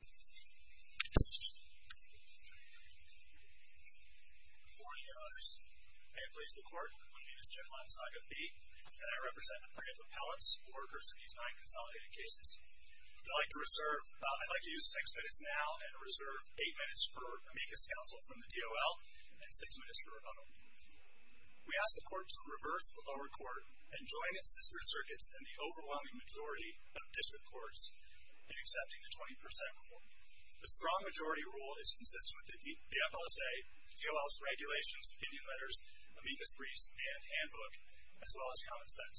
Good morning, Your Honors. I am pleased to report my name is Jim Lonsaga Fee, and I represent the three appellates for cursing these nine consolidated cases. I'd like to use six minutes now and reserve eight minutes per amicus counsel from the D.O.L. and six minutes for rebuttal. We ask the Court to reverse the lower court and join its sister circuits and the overwhelming majority of district courts in accepting the 20% rule. The strong majority rule is consistent with the D.F.L.S.A., D.O.L.'s regulations, opinion letters, amicus briefs, and handbook, as well as common sense.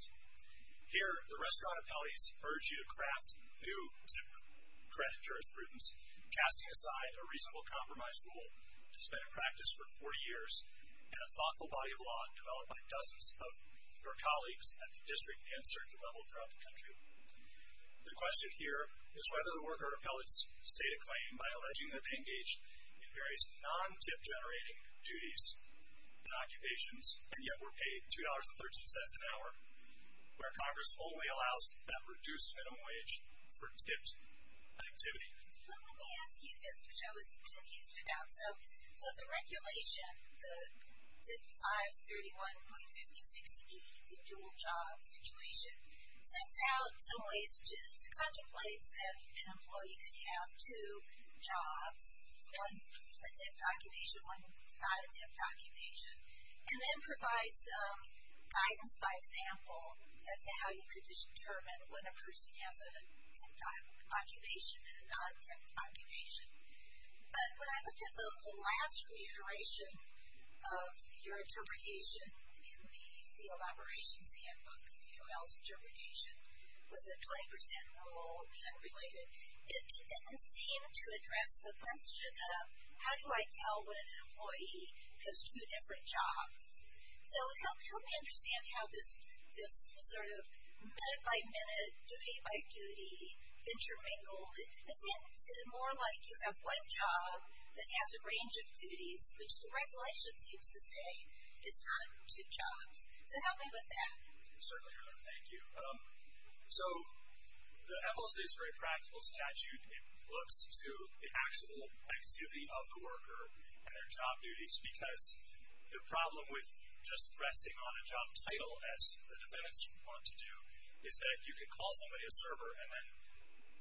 Here, the restaurant appellees urge you to craft new, new-credit jurisprudence, casting aside a reasonable compromise rule, which has been in practice for four years, and a thoughtful body of law developed by dozens of your colleagues at the district and circuit level throughout the country. The question here is whether the worker appellates state a claim by alleging that they engaged in various non-tip generating duties and occupations, and yet were paid $2.13 an hour, where Congress only allows that reduced minimum wage for tipped activity. Well, let me ask you this, which I was confused about. So, the regulation, the 531.56e, the dual job situation, sets out some ways to contemplate that an employee could have two jobs, one a tipped occupation, one not a tipped occupation, and then provides guidance by example as to how you could determine when a person has a tipped occupation and a non-tipped occupation. But when I looked at the last reiteration of your interpretation in the field operations handbook, the O.L.'s interpretation, with a 20% rule in the unrelated, it didn't seem to address the question of how do I tell when an employee has two different jobs? So, help me understand how this sort of minute-by-minute, duty-by-duty, intermingle, it seems more like you have one job that has a range of duties, which the regulation seems to say is not two jobs. So, help me with that. Certainly, thank you. So, the FLSA's very practical statute, it looks to the actual activity of the worker and their job duties, because the problem with just resting on a job title, as the defendants want to do, is that you could call somebody a server and then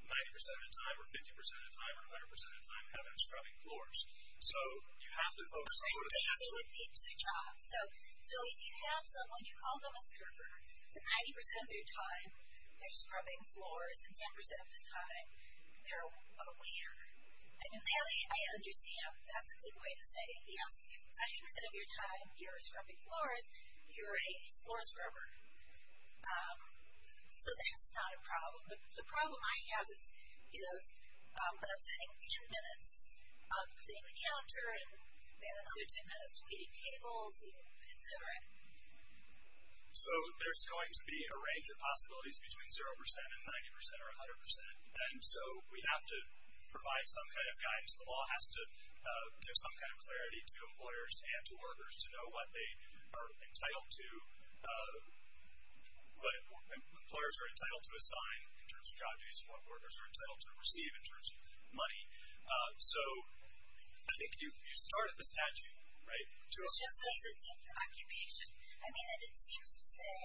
90% of the time, or 50% of the time, or 100% of the time, have them scrubbing floors. So, you have to focus on what are the chances... I think they would need two jobs. So, if you have someone, you call them a server, then 90% of their time, they're scrubbing floors, and 10% of the time, they're a waiter. I mean, really, I understand, that's a good way to say, yes, if 90% of your time, you're scrubbing floors, you're a floor scrubber. So, that's not a problem. The problem I have is, you know, I'm sitting 10 minutes, I'm sitting at the counter, and then another 10 minutes, waiting tables, and it's over. So, there's going to be a range of possibilities between 0% and 90% or 100%. And so, we have to provide some kind of guidance. The law has to give some kind of guidance. Employers are entitled to assign in terms of job duties. Workers are entitled to receive in terms of money. So, I think you started the statute, right? It's just that it's a different occupation. I mean, it seems to say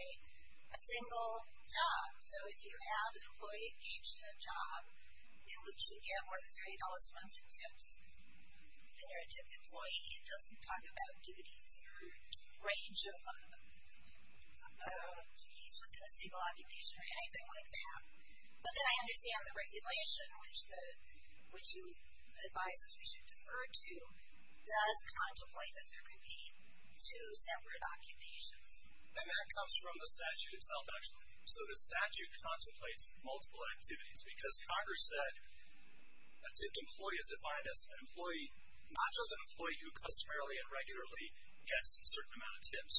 a single job. So, if you have an employee engaged in a job, it should get more than $30 a month in tips. If you're a tipped employee, it doesn't talk about duties or range of duties within a single occupation or anything like that. But then, I understand the regulation, which you advise us we should defer to, does contemplate that there could be two separate occupations. And that comes from the statute itself, actually. So, the statute contemplates multiple activities because Congress said a tipped employee is defined as an employee, not just an employee who customarily and regularly gets a certain amount of tips,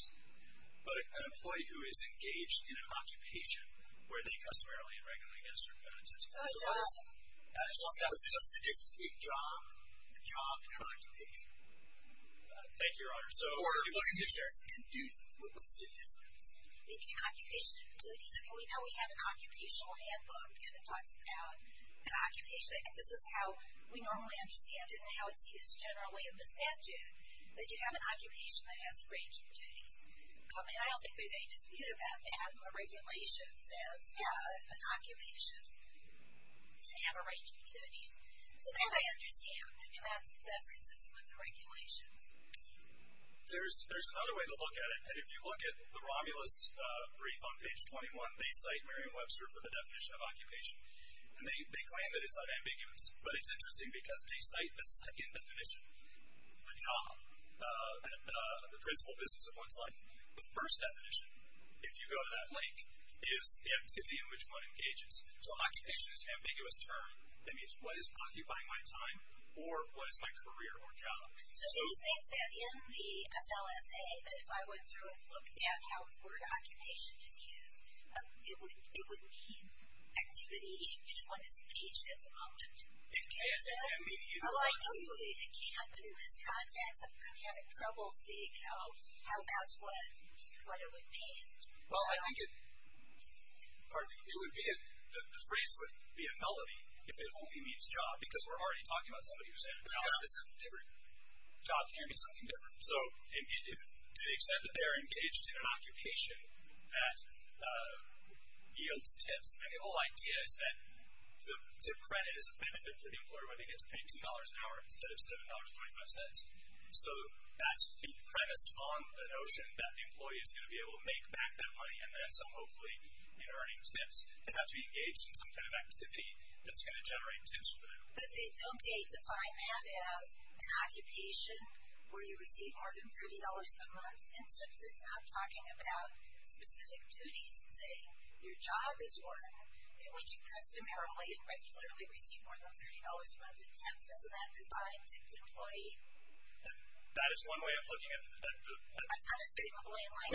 but an employee who is engaged in an occupation where they customarily and regularly get a certain amount of tips. Oh, that's awesome. As long as it's a job occupation. Thank you, Your Honor. Or duties. And duties. What's the difference? Between occupation and duties. I mean, we know we have an occupational handbook, and it talks about an occupation. I think this is how we normally understand it, and how it's used generally in the statute, that you have an occupation that has a range of duties. And I don't think there's any dispute about having the regulations as an occupation and have a range of duties. So, that I understand. I mean, that's consistent with the regulations. There's another way to look at it, and if you look at the Romulus brief on page 21, they cite Merriam-Webster for the definition of occupation. And they claim that it's unambiguous, but it's interesting because they cite the second definition for job and the principal business of one's life. The first definition, if you go to that link, is the activity in which one engages. So, occupation is an ambiguous term that means what is occupying my time, or what is my career or job. So, do you think that in the FLSA, that if I went through and looked at how the word occupation is used, it would mean activity in which one is engaged at the moment? It can, and maybe you don't know that. Well, I do. It can, but in this context, I'm having trouble seeing how that's what it would mean. Well, I think it would be, the phrase would be a melody if it only means job, because we're already talking about somebody who's in a job. Because it's a different job. It can't be something different. So, to the extent that they're engaged in an occupation that yields tips, and the whole idea is that the tip credit is a benefit for the employer when they get to pay $2 an hour instead of $7.25. So, that's premised on the notion that the employee is going to be able to make back that money, and then so hopefully, in earning tips, they have to be engaged in some kind of activity that's going to generate tips for them. But they don't define that as an occupation where you receive more than $30 a month, and TIPS is not talking about specific duties and saying, your job is work. They want you customarily and regularly receive more than $30 a month, and TIPS doesn't have to define a tipped employee. That is one way of looking at it. I'm trying to stay in the blame line.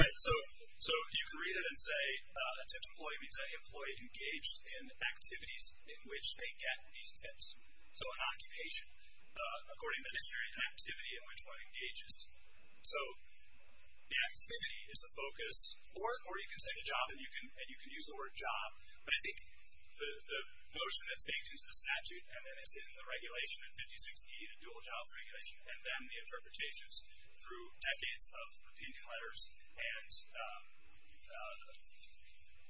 So, you can read it and say a tipped employee means an employee engaged in activities in which they get these tips. So, an occupation, according to the dictionary, an activity in which one engages. So, the activity is a focus, or you can say the job, and you can use the word job. But I think the notion that's baked into the statute, and then it's in the regulation in 56E, the dual-childhood regulation, and then the interpretations through decades of opinion letters, and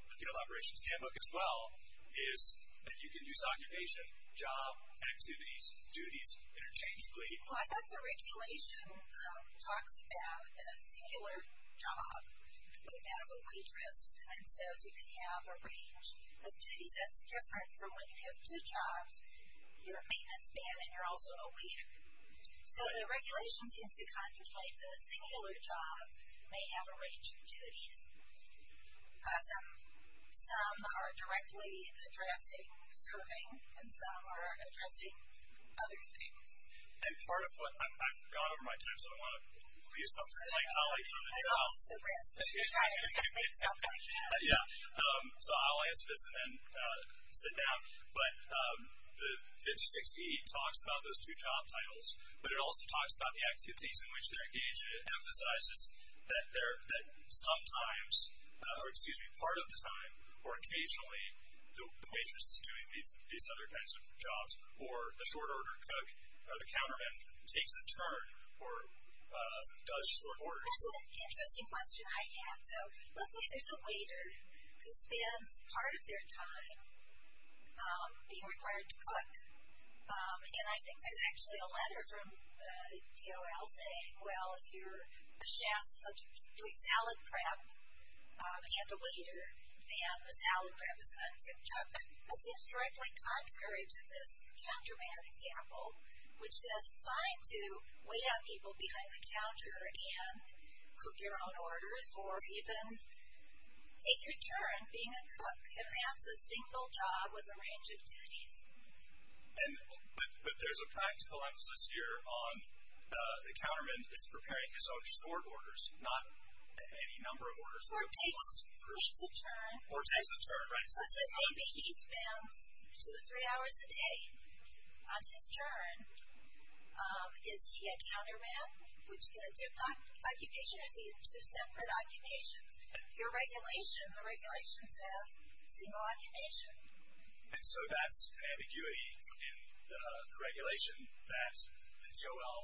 the field operations handbook as well, is that you can use occupation, job, activities, duties interchangeably. Well, I thought the regulation talks about a singular job. We have a waitress and says you can have a range of duties. That's different from when you have two jobs. You're a maintenance man, and you're also a waiter. So, the regulation seems to contemplate the singular job may have a range of duties. Some are directly addressing serving, and some are addressing other things. And part of what, I've gone over my time, so I want to use something. I lost the rest, but you're trying to make something. Yeah, so I'll answer this and then sit down. But the 56E talks about those two job titles, but it also talks about the activities in which they're engaged, and it emphasizes that sometimes, or excuse me, part of the time, or occasionally, the waitress is doing these other kinds of jobs, or the short order cook, or the counterman, takes a turn, or does just the work. That's an interesting question I had. So, let's say there's a waiter who spends part of their time being required to cook. And I think there's actually a letter from DOL saying, well, if you're a chef such as doing salad prep and a waiter, then the salad prep is not a tip job. That seems directly contrary to this counterman example, which says it's fine to wait out people behind the counter and cook your own orders, or even take your turn being a cook. Advance a single job with a range of duties. And, but there's a practical emphasis here on the counterman is preparing his own short orders, not any number of orders. Or takes a turn. Or takes a turn, right. So, say maybe he spends two or three hours a day on his turn. Is he a counterman? Would you get a tip occupation? Is he in two separate occupations? Your regulation, the regulation says single occupation. And so, that's ambiguity in the regulation that the DOL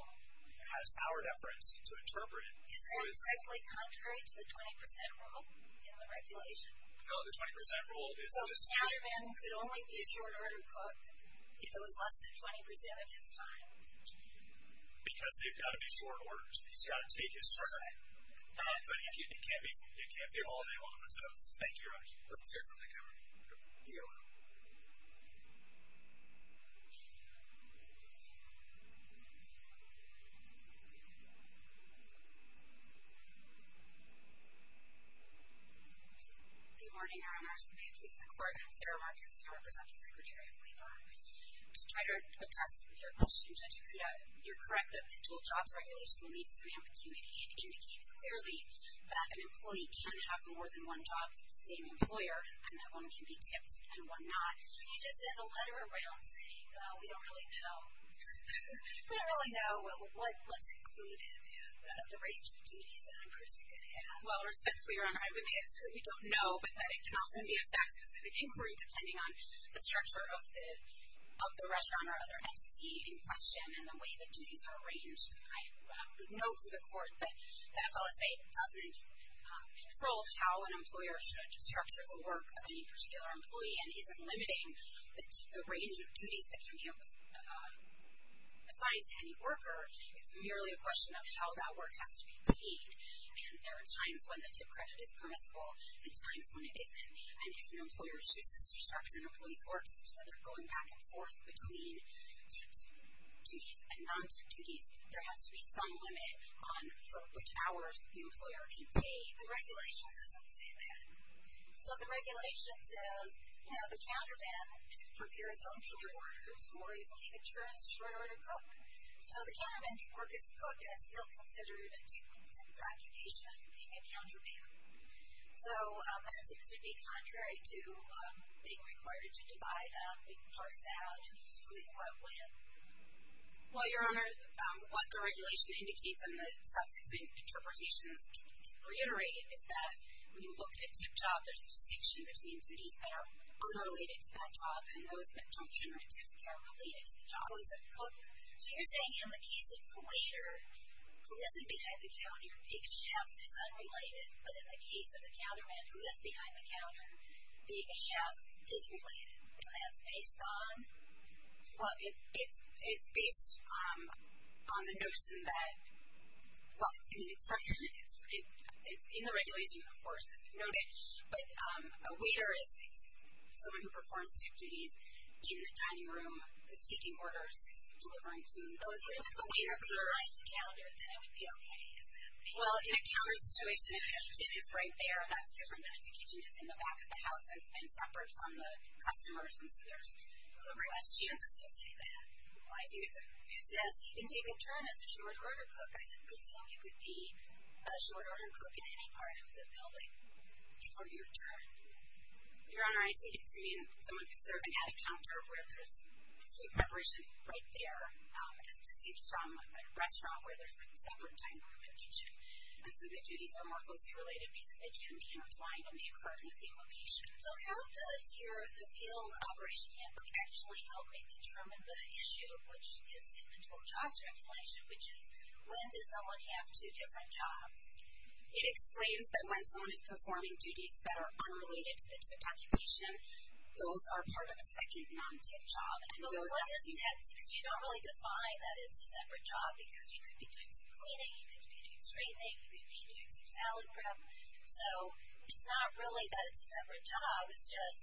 has powered efforts to interpret. Is that exactly contrary to the 20% rule in the regulation? No, the 20% rule is just- So, a counterman could only be a short order cook if it was less than 20% of his time. Because they've got to be short orders. He's got to take his turn. But it can't be all day long. So, thank you. Thank you. Good morning, Your Honor. Samantha Quart, Sarah Marcus, I represent the Secretary of Labor. To try to address your question, Judge Okuda, you're correct that the dual jobs regulation leaves some ambiguity. It indicates clearly that an employee can have more than one job with the same employer. And that one can be tipped and one not. You just sent a letter around saying, oh, we don't really know. We don't really know what's included out of the range of duties that a person could have. Well, respectfully, Your Honor, I would say that we don't know. But that it can often be a fact-specific inquiry, depending on the structure of the restaurant or other entity in question. And the way that duties are arranged. I would note to the Court that the FLSA doesn't control how an employer should structure the work of any particular employee. And isn't limiting the range of duties that can be assigned to any worker. It's merely a question of how that work has to be paid. And there are times when the tip credit is permissible, and times when it isn't. And if an employer chooses to structure an employee's work so they're going back and forth between tipped duties and non-tipped duties, there has to be some limit on for which hours the employer can pay. The regulation doesn't say that. So the regulation says, you know, the counterman prepares home-cooked orders, or you can keep insurance short-order cook. So the counterman can work as a cook, and is still considered a tip occupation, being a counterman. So that seems to be contrary to being required to divide big parts out. Who do you work with? Well, Your Honor, what the regulation indicates, and the subsequent interpretations reiterate, is that when you look at a tipped job, there's a distinction between duties that are unrelated to that job, and those that don't generate tips that are related to the job. So you're saying in the case of the waiter, who isn't behind the counter, being a chef is unrelated, but in the case of the counterman, who is behind the counter, being a chef is related. That's based on? Well, it's based on the notion that, well, it's in the regulation, of course, it's noted, but a waiter is someone who performs tip duties in the dining room, is taking orders, is delivering food. Oh, if you're the waiter behind the counter, then it would be okay, is that the case? Well, in a counter situation, if the kitchen is right there, that's different than if the kitchen is in the back of the house and separate from the customers, and so there's a question. Who requests you to say that? If it says you can take a turn as a short-order cook, I presume you could be a short-order cook in any part of the building. Before your turn. Your Honor, I take it to mean someone who's serving at a counter where there's food preparation right there, as distinct from a restaurant where there's like a separate dining room and kitchen. And so the duties are more closely related because they can be intertwined and they occur in the same location. So how does your, the field operation handbook actually help me determine the issue, which is in the total job circulation, which is when does someone have two different jobs? It explains that when someone is performing duties that are unrelated to the tip occupation, those are part of a second non-tip job. And the one that you had, because you don't really define that it's a separate job, because you could be doing some cleaning, you could be doing some straightening, you could be doing some salad prep, so it's not really that it's a separate job, it's just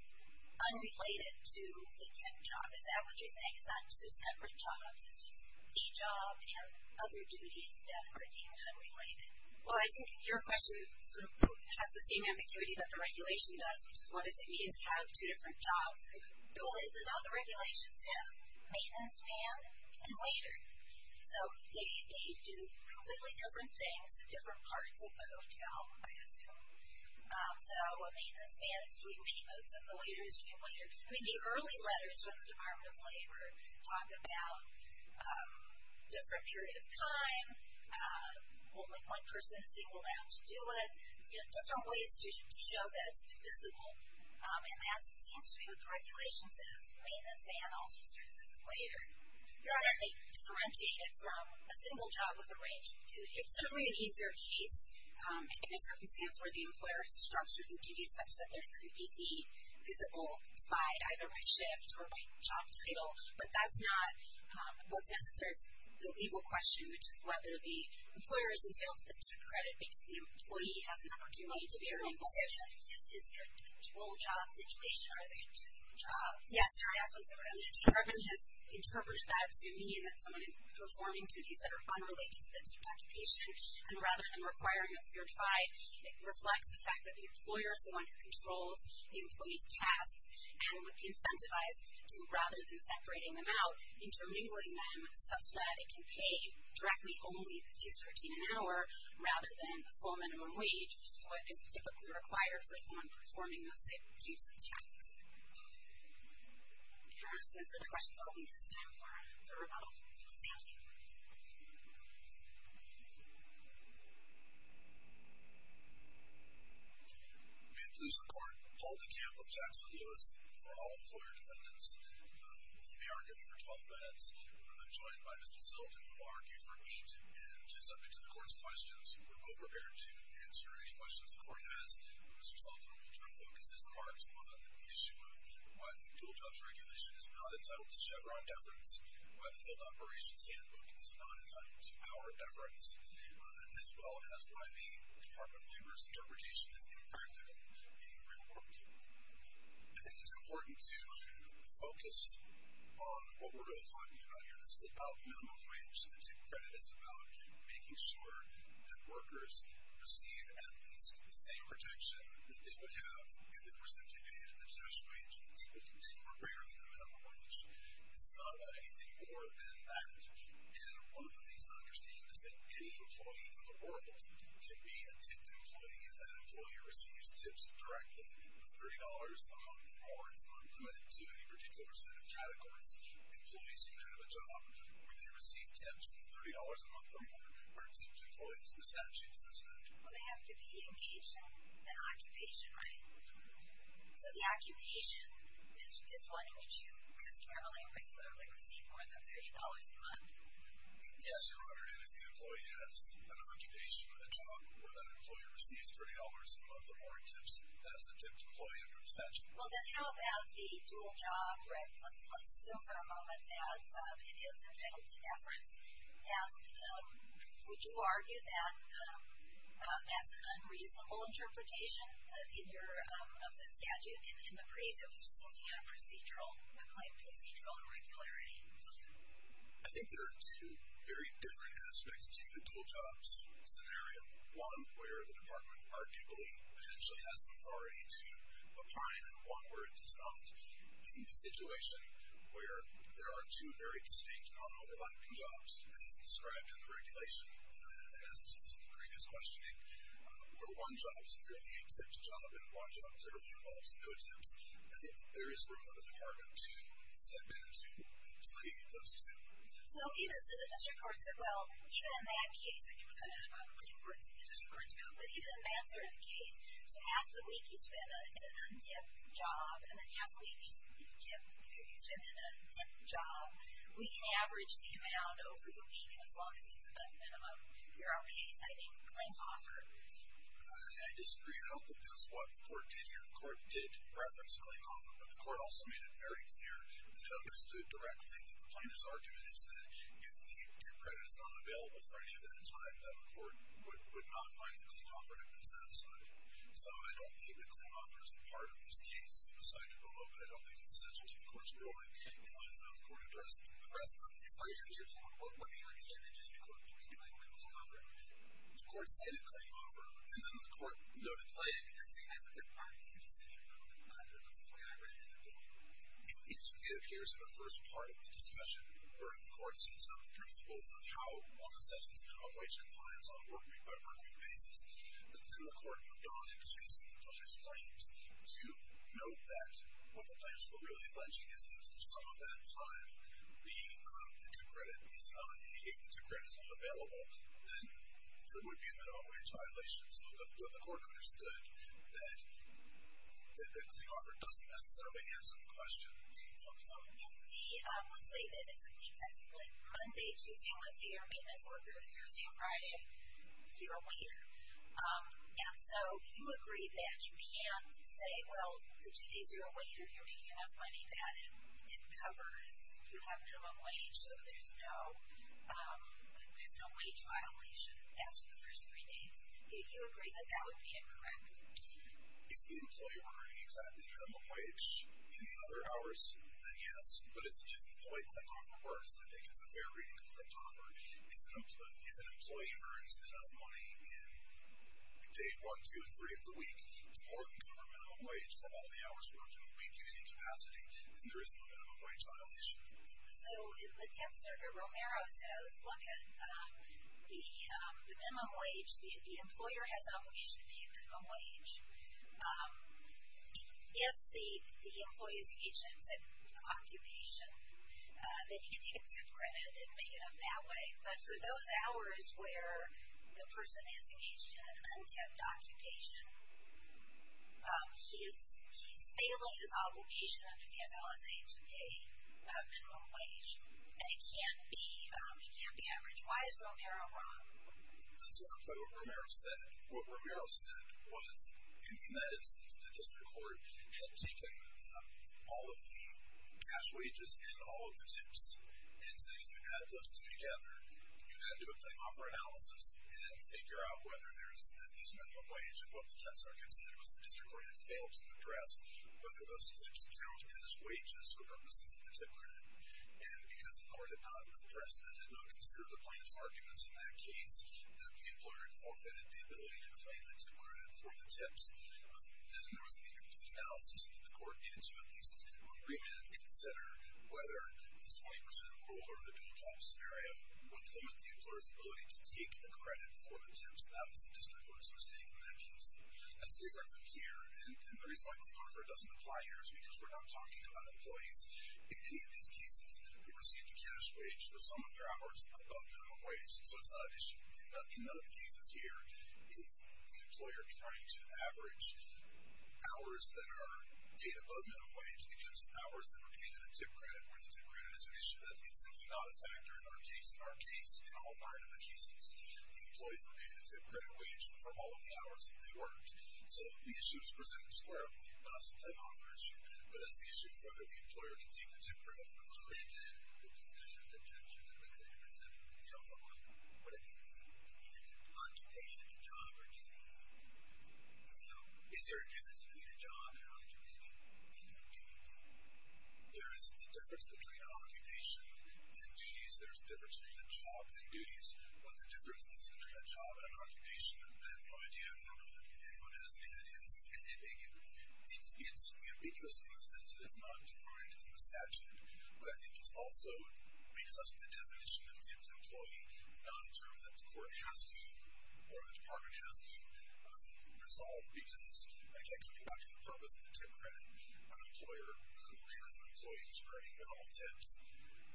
unrelated to the tip job. Is that what you're saying? It's not two separate jobs, it's just the job and other duties that are deemed unrelated? Well, I think your question sort of has the same ambiguity that the regulation does, which is what does it mean to have two different jobs? The goal is, and all the regulations have, maintenance man and waiter. So they do completely different things at different parts of the hotel, I assume. So a maintenance man is doing maintenance and the waiter is being a waiter. The early letters from the Department of Labor talk about different period of time, when only one person is allowed to do it, different ways to show that it's divisible. And that seems to be what the regulation says. Maintenance man also serves as a waiter. They differentiate it from a single job with a range of duties. It's certainly an easier case in a circumstance where the employer has structured the duties such that there's an easy, visible divide, either by shift or by job title, but that's not what's necessary. It's the legal question, which is whether the employer is entitled to the tip credit because the employee has an opportunity to be earned a tip. Is there a dual job situation? Are there two jobs? Yes. The Department has interpreted that to mean that someone is performing duties that are unrelated to the tip occupation, and rather than requiring a certified, it reflects the fact that the employer is the one who controls the employee's tasks and would be incentivized to, rather than separating them out, intermingling them such that it can pay directly only the $2.13 an hour, rather than the full minimum wage, which is what is typically required for someone performing those types of tasks. If there are no further questions, I'll leave this time for the rebuttal. Thank you. May it please the Court. Paul DeCamp of Jackson Lewis for all employer defendants. We'll be arguing for 12 minutes. I'm joined by Mr. Sultan, who will argue for eight, and is subject to the Court's questions. We're both prepared to answer any questions the Court has. Mr. Sultan will try to focus his remarks on the issue of why the dual jobs regulation is not entitled to Chevron deference, why the filled operations handbook is not entitled to power deference, as well as why the Department of Labor's interpretation is impractical, being reported. I think it's important to focus on what we're really talking about here. This is about minimum wage. The tip credit is about making sure that workers receive at least the same protection that they would have if they were simply paid at their cash wage, which would continue to be greater than the minimum wage. This is not about anything more than that. And one of the things to understand is that any employee in the world can be a tipped employee if that employee receives tips directly of $30 a month or it's not limited to any particular set of categories. Employees who have a job where they receive tips of $30 a month or more are tipped employees. The statute says that. Well, they have to be engaged in an occupation, right? So the occupation is one in which you customarily or regularly receive more than $30 a month. Yes, Your Honor, and if the employee has an occupation, a job, where that employee receives $30 a month or more tips, that is a tipped employee under the statute. Well, then how about the dual job, right? Let's assume for a moment that it is entitled to deference. Now, would you argue that that's an unreasonable interpretation of the statute in the brief? If this was looking at a plain procedural irregularity? I think there are two very different aspects to the dual jobs scenario. One where the Department of Labor potentially has some authority to opine and one where it does not in the situation where there are two very distinct non-overlapping jobs as described in the regulation as to the previous questioning, where one job is a 38-tips job and one job is a 14-volts, no tips. I think there is room for the Department to step in and to create those two. So even, so the district court said, well, even in that case, I'm pretty sure it's in the district court's book, but even in that sort of case, so half the week you spend in an un-tipped job and then half the week you spend in a tipped job, we can average the amount over the week as long as it's above minimum. Here are we citing Klinghoffer. I disagree. I don't think that's what the court did here. The court did reference Klinghoffer, but the court also made it very clear that it understood directly that the plaintiff's argument is that if the tip credit is not available for any event in time, then the court would not find that Klinghoffer had been satisfied. So I don't think that Klinghoffer is a part of this case. It was cited below, but I don't think it's essential to the court's ruling. Now I don't know if the court addressed the rest of these relationships, but what do you understand the district court to be doing with Klinghoffer? The court cited Klinghoffer, and then the court noted, well, I mean, I see that as a good part of the decision, but that's the way I read it as a book. It instantly appears in the first part of the discussion where the court sets up the principles of how all assessments are made to compliance on a work-week basis. Then the court moved on into facing the plaintiff's claims. You note that what the plaintiffs were really alleging is that for some of that time, if the tip credit is not available, then there would be an advantage violation. So the court understood that Klinghoffer doesn't necessarily answer the question. So if the, let's say that it's a week that's split, Monday, Tuesday, Wednesday, you're a maintenance worker, Thursday, Friday, you're a waiter. And so you agree that you can't say, well, the Tuesdays you're a waiter, you're making enough money that it covers, you have minimum wage, so there's no wage violation after the first three days. Do you agree that that would be incorrect? If the employee were earning exactly minimum wage in the other hours, then yes. But if the way Klinghoffer works, I think it's a fair reading of Klinghoffer. If an employee earns enough money in day one, two, and three of the week, it's more than cover minimum wage for all the hours worked in the week in any capacity, then there isn't a minimum wage violation. So the tip certificate, Romero says, look at the minimum wage. The employer has an obligation to pay a minimum wage. If the employee is engaged in an occupation, they can get a tip credit and make it up that way. But for those hours where the person is engaged in an un-tipped occupation, he's failing his obligation under the NLSA to pay a minimum wage. And it can't be averaged. Why is Romero wrong? That's not quite what Romero said. What Romero said was, in that instance, the district court had taken all of the cash wages and all of the tips. And so you added those two together. You had to do a Klinghoffer analysis and figure out whether there's a minimum wage. And what the tests are considered was the district court had failed to address whether those tips count as wages for purposes of the tip credit. And because the court had not addressed that, had not considered the plaintiff's arguments in that case, the employer had forfeited the ability to claim the tip credit for the tips. Then there was an incomplete analysis that the court needed to at least have an agreement and consider whether this 20% rule or the dual-tops scenario would limit the employer's ability to take the credit for the tips. That was the district court's mistake in that case. That's different from here. And the reason why Klinghoffer doesn't apply here is because we're not talking about employees. In any of these cases, who receive the cash wage for some of their hours above minimum wage. So it's not an issue. In none of the cases here is the employer trying to average hours that are above minimum wage. It's actually just hours that were paid in the tip credit, where the tip credit is an issue that is simply not a factor in our case. In our case, in all nine of the cases, the employees were paid the tip credit wage for all of the hours that they worked. So the issue is presented squarely. Not as a time-offer issue, but as the issue of whether the employer can take the tip credit for the whole day. And then the possession, the detention, and the claim has nothing to do with Klinghoffer. What it means to be in an occupation, a job, or duties. So, is there a difference between a job and an occupation? There is a difference between an occupation and duties. There's a difference between a job and duties. But the difference between a job and an occupation, I have no idea, nor do anyone has any evidence of anything. It's ambiguous in the sense that it's not defined in the statute. But I think it's also because of the definition of tip to employee, not a term that the court has to, or the department has to, resolve because, again, coming back to the purpose of the tip credit, an employer who has an employee who's earning minimal tips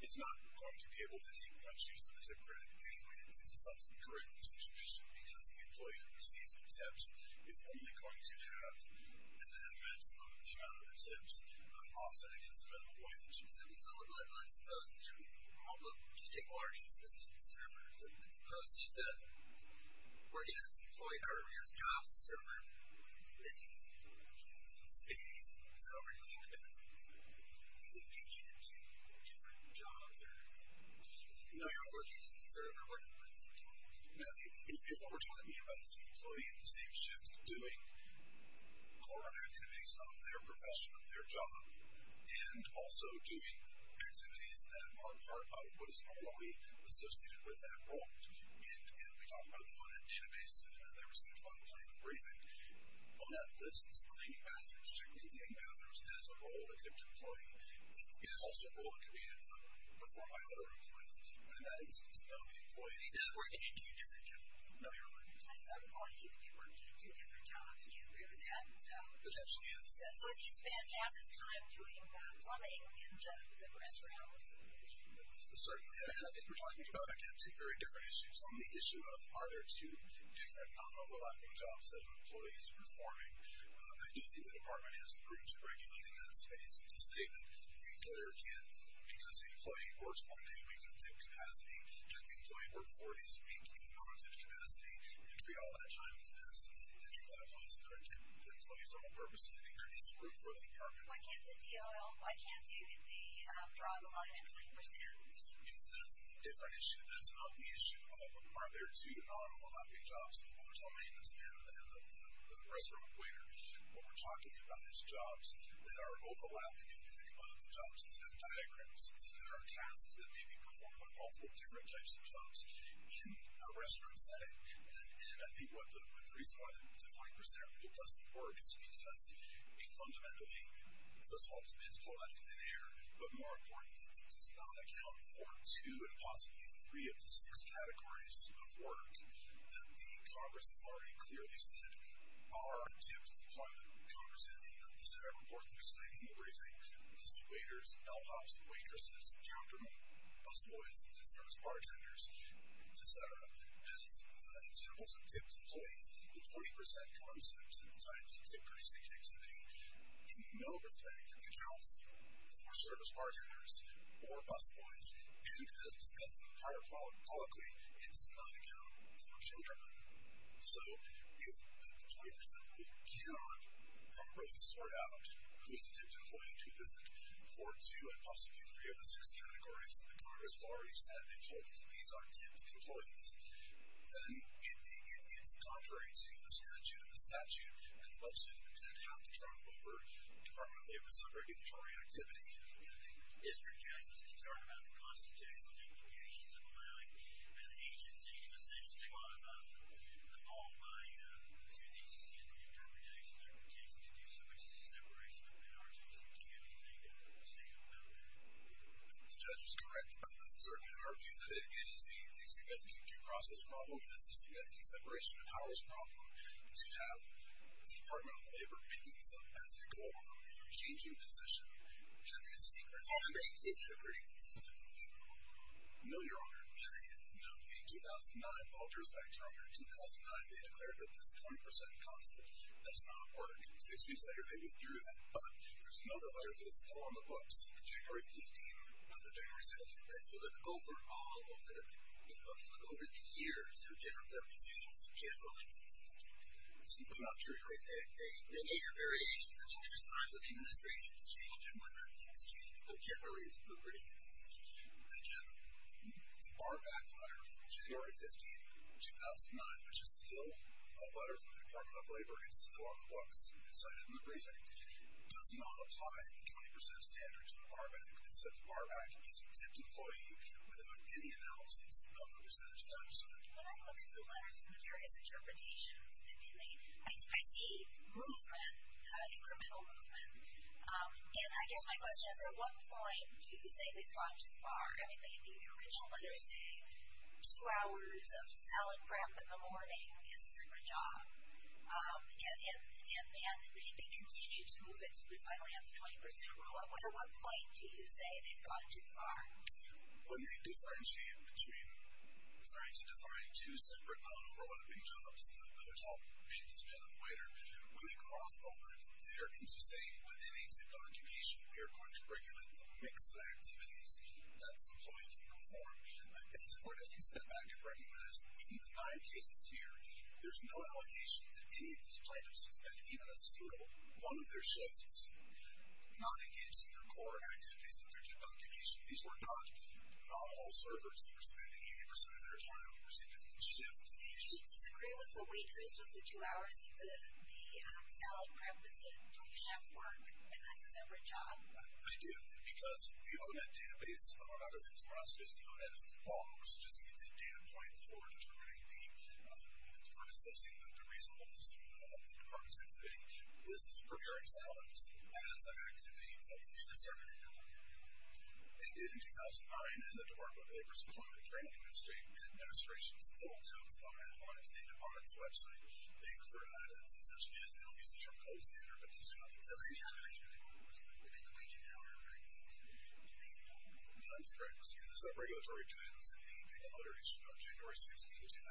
is not going to be able to take much use of the tip credit in any way that leads to some sort of corrective situation because the employee who receives the tips is only going to have an advent of the amount of the tips offset against the minimum wage. So, let's suppose that you're making multiple, just take large instances of these servers, let's suppose you said, we're getting this employee out of his job server, that he's, you know, he's, he stays, he's over here in the bathroom, he's engaged in two different jobs, or he's not working as a server, what is he doing? Now, if what we're talking about is an employee in the same shift doing core activities of their profession, of their job, and also doing activities that aren't part of what is normally associated with that role, and we talk about the funded database, that receives all the time of briefing, well, no, this is cleaning bathrooms, typically cleaning bathrooms is a role of the employee, it is also a role that can be performed by other employees, but in that instance, it's not the employee. He's not working in two different jobs. No, you're right. At some point, you'd be working in two different jobs, do you agree with that? Potentially, yes. So, do you spend half his time doing plumbing in the restaurants? Certainly, and I think you're talking about, again, two very different issues on the issue of, are there two different, non-overlapping jobs that an employee is performing. I do think the department has the room to regulate in that space and to say that the employer can't, because the employee works one day a week in a tip capacity, and the employee worked four days a week in a non-tip capacity, and free all that time. So, that's a lot of employees that are in tip, the employees are on purpose, and I think there needs to be room for that in the department. Why can't the DOL, why can't you, be driving a lot of employee procedures? Because that's a different issue, that's not the issue of, are there two non-overlapping jobs? There's a maintenance man at the end of the restaurant waiter. What we're talking about is jobs that are overlapping, if you think about it, the jobs that have diagrams, that are tasks that may be performed on multiple different types of jobs in a restaurant setting. And I think what the reason why the defined percentage of it doesn't work is because it fundamentally, first of all, it's meant to blow out the thin air, but more importantly, it does not account for two, or even possibly three of the six categories of work that the Congress has already clearly said are tipped by the Congress, and the Senate report that we're sending in the briefing, listed waiters, bellhops, waitresses, countermen, busboys, and service bartenders, et cetera, as examples of tipped employees, the 20% concept, and the types of tip-producing activity, in no respect accounts for service bartenders or busboys, and as discussed in the prior colloquy, it does not account for children. So if the 20% cannot properly sort out who is a tipped employee and who isn't, for two and possibly three of the six categories that the Congress has already said, they've told us that these aren't tipped employees, then it's contrary to the statute, and the statute and the website have to travel over Department of Labor's regulatory activity. Mr. Judge, I was concerned about the constitutional implications of allowing an agency to essentially modify the law through these interpretations, or the case to do so, which is a separation of powers. Do you have anything to say about that? Mr. Judge is correct about that, sir, and our view that it is a significant due process problem, it is a significant separation of powers problem, to have Department of Labor making these up as they go along, or changing position, having a secret... Are they interpreting things as they go along? No, Your Honor. In 2009, they declared that this 20% concept does not work. Six weeks later, they withdrew that. But there's another letter that's still on the books, January 15, not the January 16. If you look over the years, their position is generally consistent. That's not true. There are variations. I mean, there's times when the administration has changed, and when it has changed, but generally it's been pretty consistent. Again, the Barback letter from January 15, 2009, which is still a letter from the Department of Labor, it's still on the books, cited in the briefing, does not apply the 20% standard to the Barback. It says the Barback is an exempt employee without any analysis of the 20% concept. When I look at the letters and the various interpretations, I see movement, incremental movement. And I guess my question is, at what point do you say they've gone too far? I mean, the original letters say two hours of salad prep in the morning is a separate job. And they continue to move it to finally have the 20% rule. At what point do you say they've gone too far? When they differentiate between... sorry, to define two separate, non-overlapping jobs, there's all the maintenance man and the waiter. When they cross the line there, it seems to say, with any zip documentation, we are going to regulate the mix of activities that the employee can perform. I think it's important to step back and recognize in the nine cases here, there's no allegation that any of these plaintiffs have spent even a single one of their shifts not engaged in their core activities in their zip documentation. These were not all servers. They were spending 80% of their time on significant shifts. Do you disagree with the waitress with the two hours the salad prep was in doing chef work? And this is a separate job. I do, because the O-Net database, among other things, we're not supposed to use the O-Net. It's a data point for assessing the reasonableness of the department's activity. This is preparing salads as an activity of the discerning employee. They did in 2009, and the Department of Labor's Employment and Training Administration still touts O-Net on its data products website. They refer to that as, essentially as, they don't use the term co-standard, but does not think that's the case. That's correct. The sub-regulatory guide was in the paper letter issued on January 16, 2009,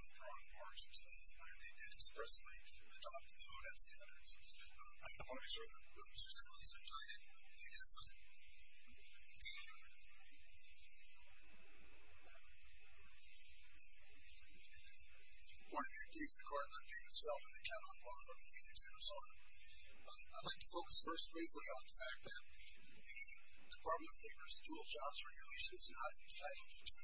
withdrawn in March of 2009. They did expressly adopt the O-Net standards. I want to make sure that Mr. St. Louis is on time. I think that's fine. Good morning, I'm David Sellman. I'm from Phoenix, Arizona. I'd like to focus first briefly on the fact that the Department of Labor's dual-jobs regulation is not entitled to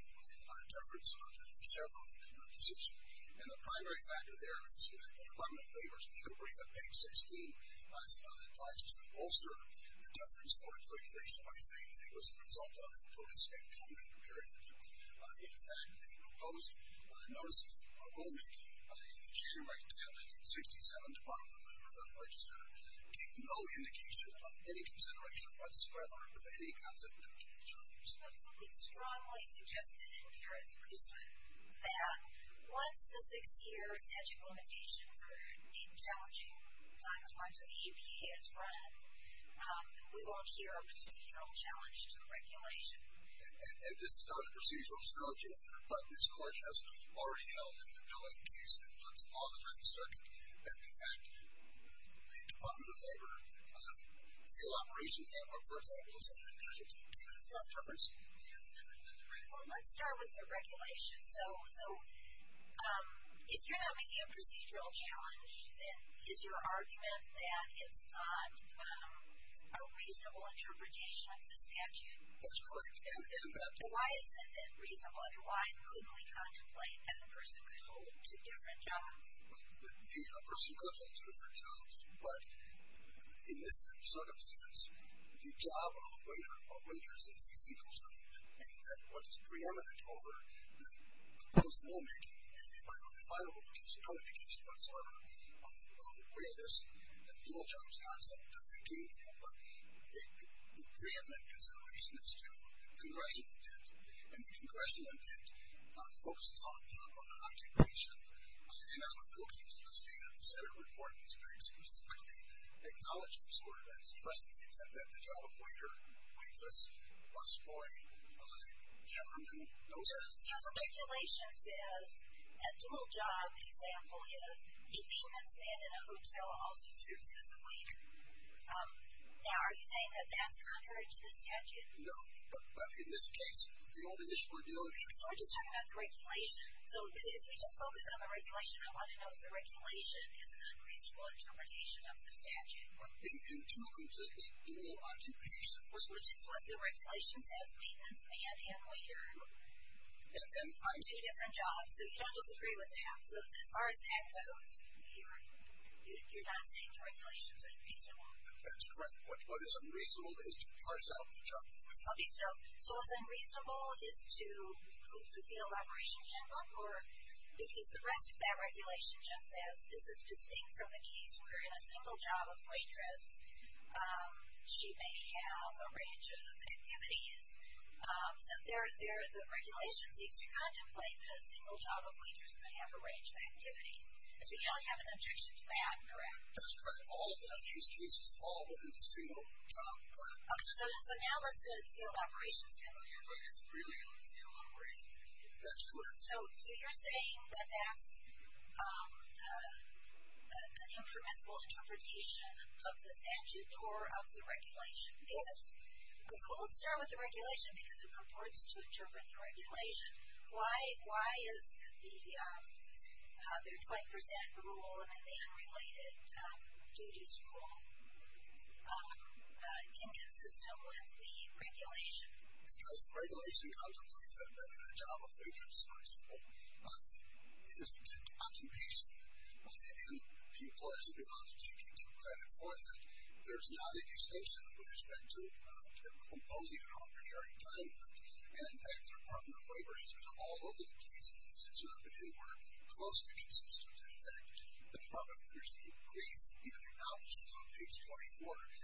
deference for several decisions. The primary factor there is that the Department of Labor's legal brief on page 16 tries to bolster the deference for its regulation by saying that it was the result of a notice-made comment period. In fact, the proposed notice of rulemaking in the January 10, 1967 Department of Labor Federal Register gave no indication of any consideration whatsoever of any concept of dual-jobs. But something strongly suggested in here is loose with that once the six-year statute of limitations or even challenging times that the EPA has run, we won't hear a procedural challenge to regulation. And this is not a procedural challenge either, but this Court has already held in the billing case that puts law in the third circuit that in fact the Department of Labor field operations network, for example, is not entitled to deference. Well, let's start with the regulation. So if you're having a procedural challenge, then is your argument that it's not a reasonable interpretation of the statute? That's correct. And why is it reasonable? Why couldn't we contemplate that a person could hold two different jobs? Well, a person could hold two different jobs, but in this circumstance, the job of a waiter or waitress is a single job. And what is preeminent over the proposed rulemaking in the final case, no indication whatsoever of where this dual-jobs concept came from, but the preeminent consideration is to congressional intent. And the congressional intent focuses on the occupation and out-of-cookings of the State of the Senate report, which very specifically acknowledges that the job of waiter, waitress, busboy, cameraman, those are the jobs. So the regulation says a dual-job example is a maintenance man in a hotel also serves as a waiter. Now, are you saying that that's contrary to the statute? No, but in this case, the only issue we're dealing with... So we're just talking about the regulation. So if we just focus on the regulation, I want to know if the regulation is an unreasonable interpretation of the statute. In two completely dual occupations. Which is what the regulation says, maintenance man and waiter on two different jobs, so you don't disagree with that. So as far as that goes, you're not saying the regulation is unreasonable? That's correct. What is unreasonable is to parse out the job. So what's unreasonable is to move to field operation handbook? Because the rest of that regulation just says this is distinct from the case where in a single job of waitress she may have a range of activities. So the regulation seems to contemplate that a single job of waitress may have a range of activities. So you don't have an objection to that, correct? That's correct. All of the unused cases fall within a single job. So now let's go to the field operations handbook. So you're saying that that's an impermissible interpretation of the statute or of the regulation? Yes. Well let's start with the regulation because it purports to interpret the regulation. Why is the 20% rule and the man related duties rule inconsistent with the regulation? Because the regulation contemplates that a job of waitress, for example, is an occupation. And people are simply allowed to take due credit for that. There's not a distinction with respect to imposing an arbitrary time limit. And in fact, the Department of Labor has been all over the case in this. It's not been anywhere close to consistent. In fact, the Department of Labor's brief even acknowledges on page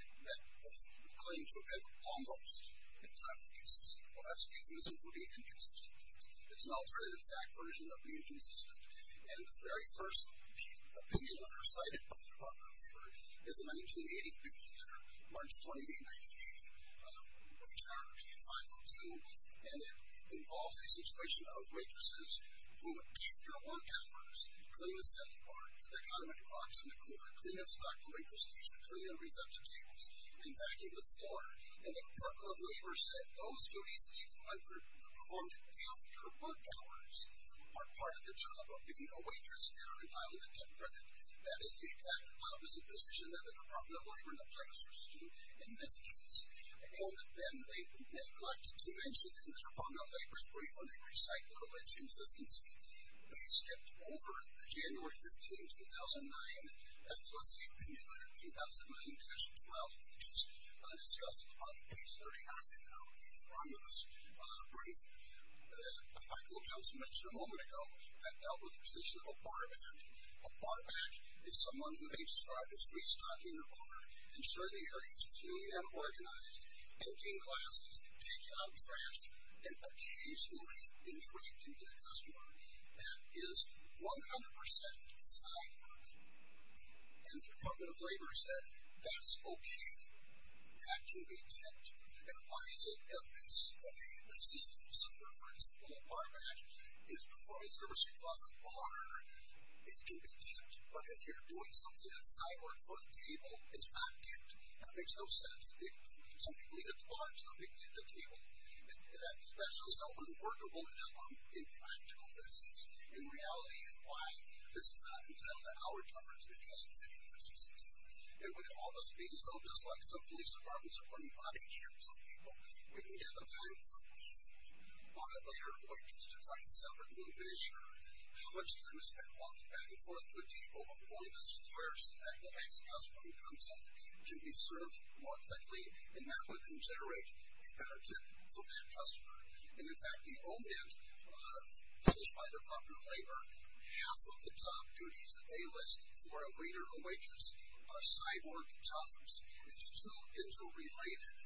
24 that it would claim to have almost in time to be consistent. Well that's euphemism for being inconsistent. It's an alternative fact version of being inconsistent. And the very first opinion under cited by the Department of Labor is the 1980s bill, March 20th, 1980, retired in 502. And it involves a situation of waitresses who, after work hours, clean the salad bar, clean and stock the waitress station, clean and reset the tables, and vacuum the floor. And the Department of Labor said those duties performed after work hours are part of the job of being a waitress. That is the exact opposite position that the Department of Labor and the Planning Service do in this case. And then they neglected to mention in the Department of Labor's brief on the recyclable edge consistency they skipped over the January 15, 2009, FLSC opinion letter, 2009-12, which is discussed on page 39 in our brief from this brief. Michael Johnson mentioned a moment ago that dealt with the position of a barman. A barman is someone who may describe as restocking the bar, ensuring the area is clean and organized, taking classes, taking out trash, and occasionally interacting with a customer that is 100% side work. And the Department of Labor said that's okay. That can be tipped. And why is it evidence of a system where, for example, a barman is performing service across a bar, it can be tipped. But if you're doing something that's side work for a table, it's not tipped. That makes no sense. Some people eat at the bar. Some people eat at the table. That shows how unworkable and impractical this is in reality and why this is not entitled to our difference because of the inconsistency. It would almost be so just like some police departments are running body cams on people. When we have the time to look on a later appointment to try to separate a little bit and make sure how much time is spent walking back and forth with people and calling the suppliers so that the next customer who comes in can be served more effectively. And that would then generate a better tip for that customer. And in fact, the omen published by the Department of Labor, half of the top duties that they list for a waiter or waitress are side work jobs. It's too interrelated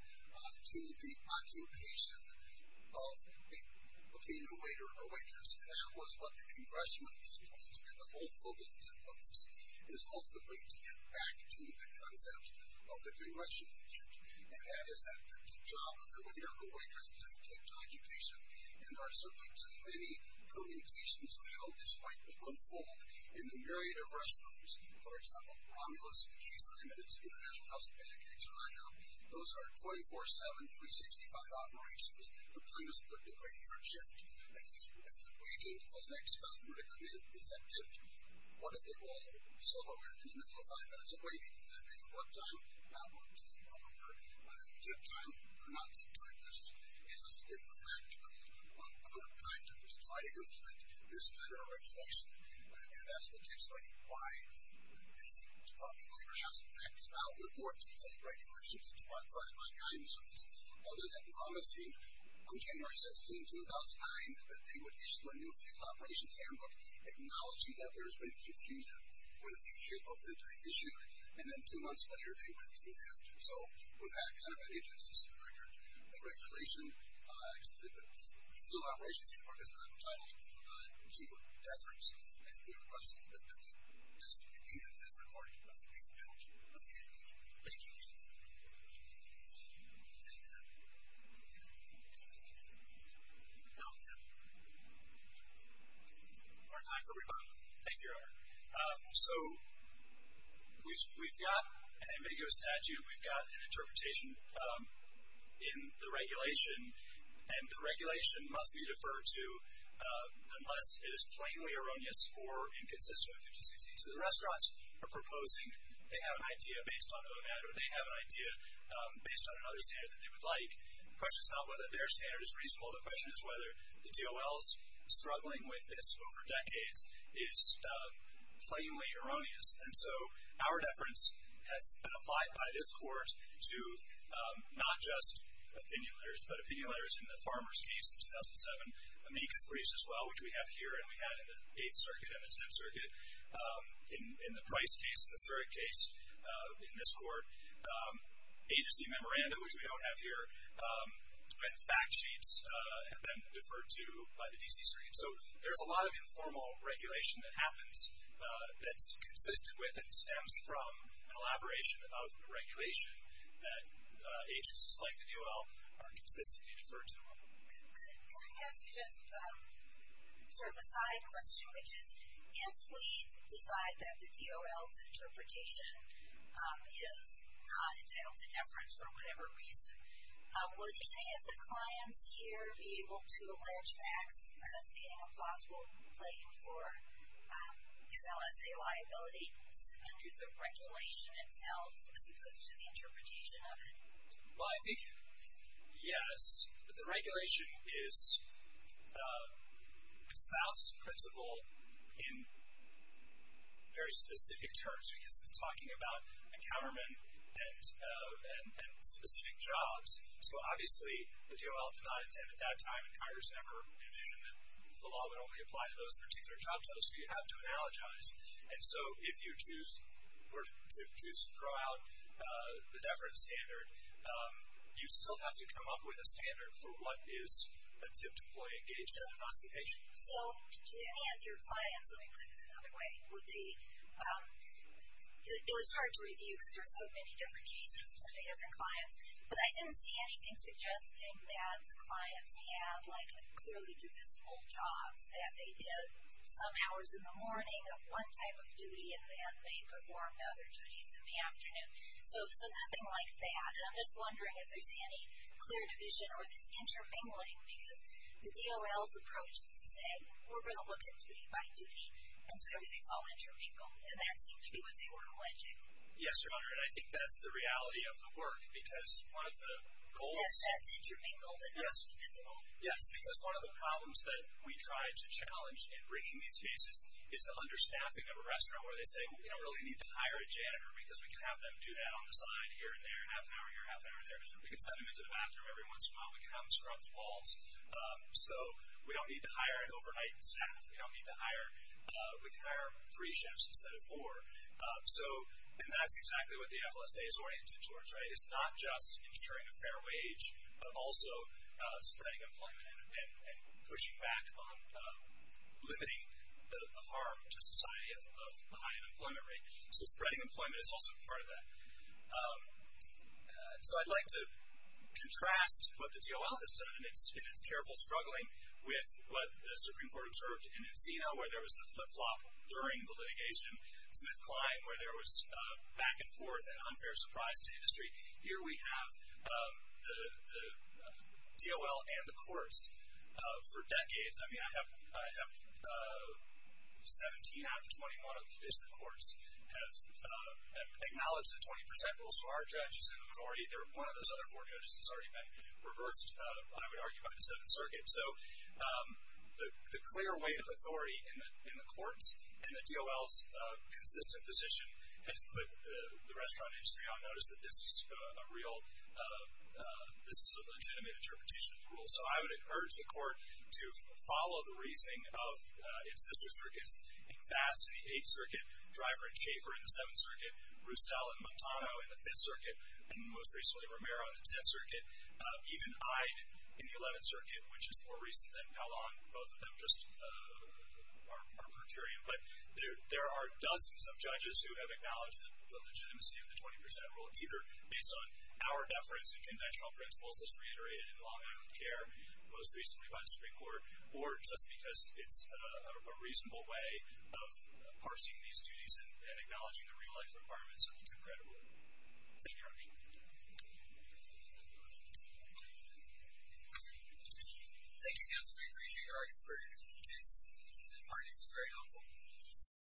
to the occupation of being a waiter or waitress. And that was what the Congressional intent was and the whole focus of this is ultimately to get back to the concept of the Congressional intent. And that is that the job of the waiter or waitress is a tipped occupation and there are certainly too many permutations of how this might unfold in the myriad of restaurants. International House of Medicaid, China. Those are 24-7, 365 operations. The plan is put to a year shift. If it's a waiter, if the next customer to come in is that tipped, what if they're all solo waiters and all five hours of waiting? Is that a good work time? Is that a good time? Or not a good time? It's just impractical to try to implement this kind of regulation. And that's potentially why the Department of Labor has packed it out with more detailed regulations to try to find guidance on this, other than promising on January 16, 2009 that they would issue a new field operations handbook acknowledging that there has been confusion over the issue and then two months later they would issue that. So with that kind of an agency record, the regulation, the field operations handbook is not entitled to deference and we request that this be deemed as recorded by the amicability of the agency. Thank you. Our time for rebuttal. So we've got an ambiguous statute, we've got an interpretation in the regulation, and the regulation must be deferred to unless it is plainly erroneous or inconsistent with 50-60. So the restaurants are proposing they have an idea based on OMAD or they have an idea based on another standard that they would like. The question is not whether their standard is reasonable, the question is whether the DOL's struggling with this over decades is plainly erroneous. And so our deference has been applied by this Court to not just opinion letters, but opinion letters in the farmers case in 2007, amicus briefs as well, which we have here and we had in the 8th Circuit and the 10th Circuit in the Price case and the 3rd case in this Court, agency memoranda, which we don't have here, and fact sheets have been deferred to by the DC Circuit. So there's a lot of informal regulation that happens that's consistent with and stems from an elaboration of regulation that agencies like the DOL are consistently deferred to. Just sort of a side question, which is if we decide that the DOL's interpretation is not entitled to deference for whatever reason, would any of the clients here be able to allege that stating a plausible claim for an LSA liability under the regulation itself as opposed to the interpretation of it? Well, I think yes, but the regulation is espoused as a principle in very specific terms because it's talking about encounterment and specific jobs. So obviously the DOL did not intend at that time and Congress never envisioned that the law would only apply to those particular job types, so you'd have to analogize. And so if you choose to throw out the deferred standard, you still have to come up with a standard for what is a tipped employee engaged in an investigation. So any of your clients, let me put it another way, it was hard to review because there were so many different cases from so many different clients, but I didn't see anything suggesting that the clients had clearly divisible jobs, that they did some hours in the morning of one type of duty and then they performed other duties in the afternoon. So nothing like that. And I'm just wondering if there's any clear division or this intermingling because the DOL's approach is to say, we're going to look at duty by duty and so everything's all intermingled. And that seemed to be what they were alleging. Yes, Your Honor, and I think that's the reality of the work because one of the goals Yes, that's intermingled and not divisible. Yes, because one of the problems that we try to challenge in bringing these cases is the understaffing of a restaurant where they say, we don't really need to hire a janitor because we can have them do that on the side here and there, half an hour here, half an hour there. We can send them into the bathroom every once in a while. We can have them scrub the walls. So we don't need to hire an overnight staff. We can hire three shifts instead of four. And that's exactly what the FLSA is oriented towards. It's not just ensuring a fair wage, but also spreading employment and pushing back on limiting the harm to society of a high unemployment rate. So spreading employment is also part of that. So I'd like to contrast what the DOL has done in its careful struggling with what the Supreme Court observed in Encino where there was a flip-flop during the litigation, Smith-Kline where there was back and forth and unfair surprise to industry. Here we have the for decades. I mean, I have 17 out of 21 of the cases that the courts have acknowledged the 20% rule. So our judges and authority, one of those other four judges has already been reversed, I would argue, by the 7th Circuit. So the clear weight of authority in the courts and the DOL's consistent position has put the restaurant industry on notice that this is a legitimate interpretation of the rule. So I would urge the court to follow the reasoning of its sister circuits in FAST in the 8th Circuit, Driver and Schaefer in the 7th Circuit, Roussel and Montano in the 5th Circuit, and most recently Romero in the 10th Circuit, even Ide in the 11th Circuit, which is more recent than Pallon, both of them just are per curiam. But there are dozens of judges who have acknowledged the legitimacy of the 20% rule, either based on our deference and conventional principles as reiterated in law and health care, most recently by the Supreme Court, or just because it's a reasonable way of parsing these duties and acknowledging the real-life requirements of the 2-credit rule. Thank you, Your Honor. Thank you, counsel. Thank you, counsel. We appreciate your arguments for your defense. This argument is very helpful.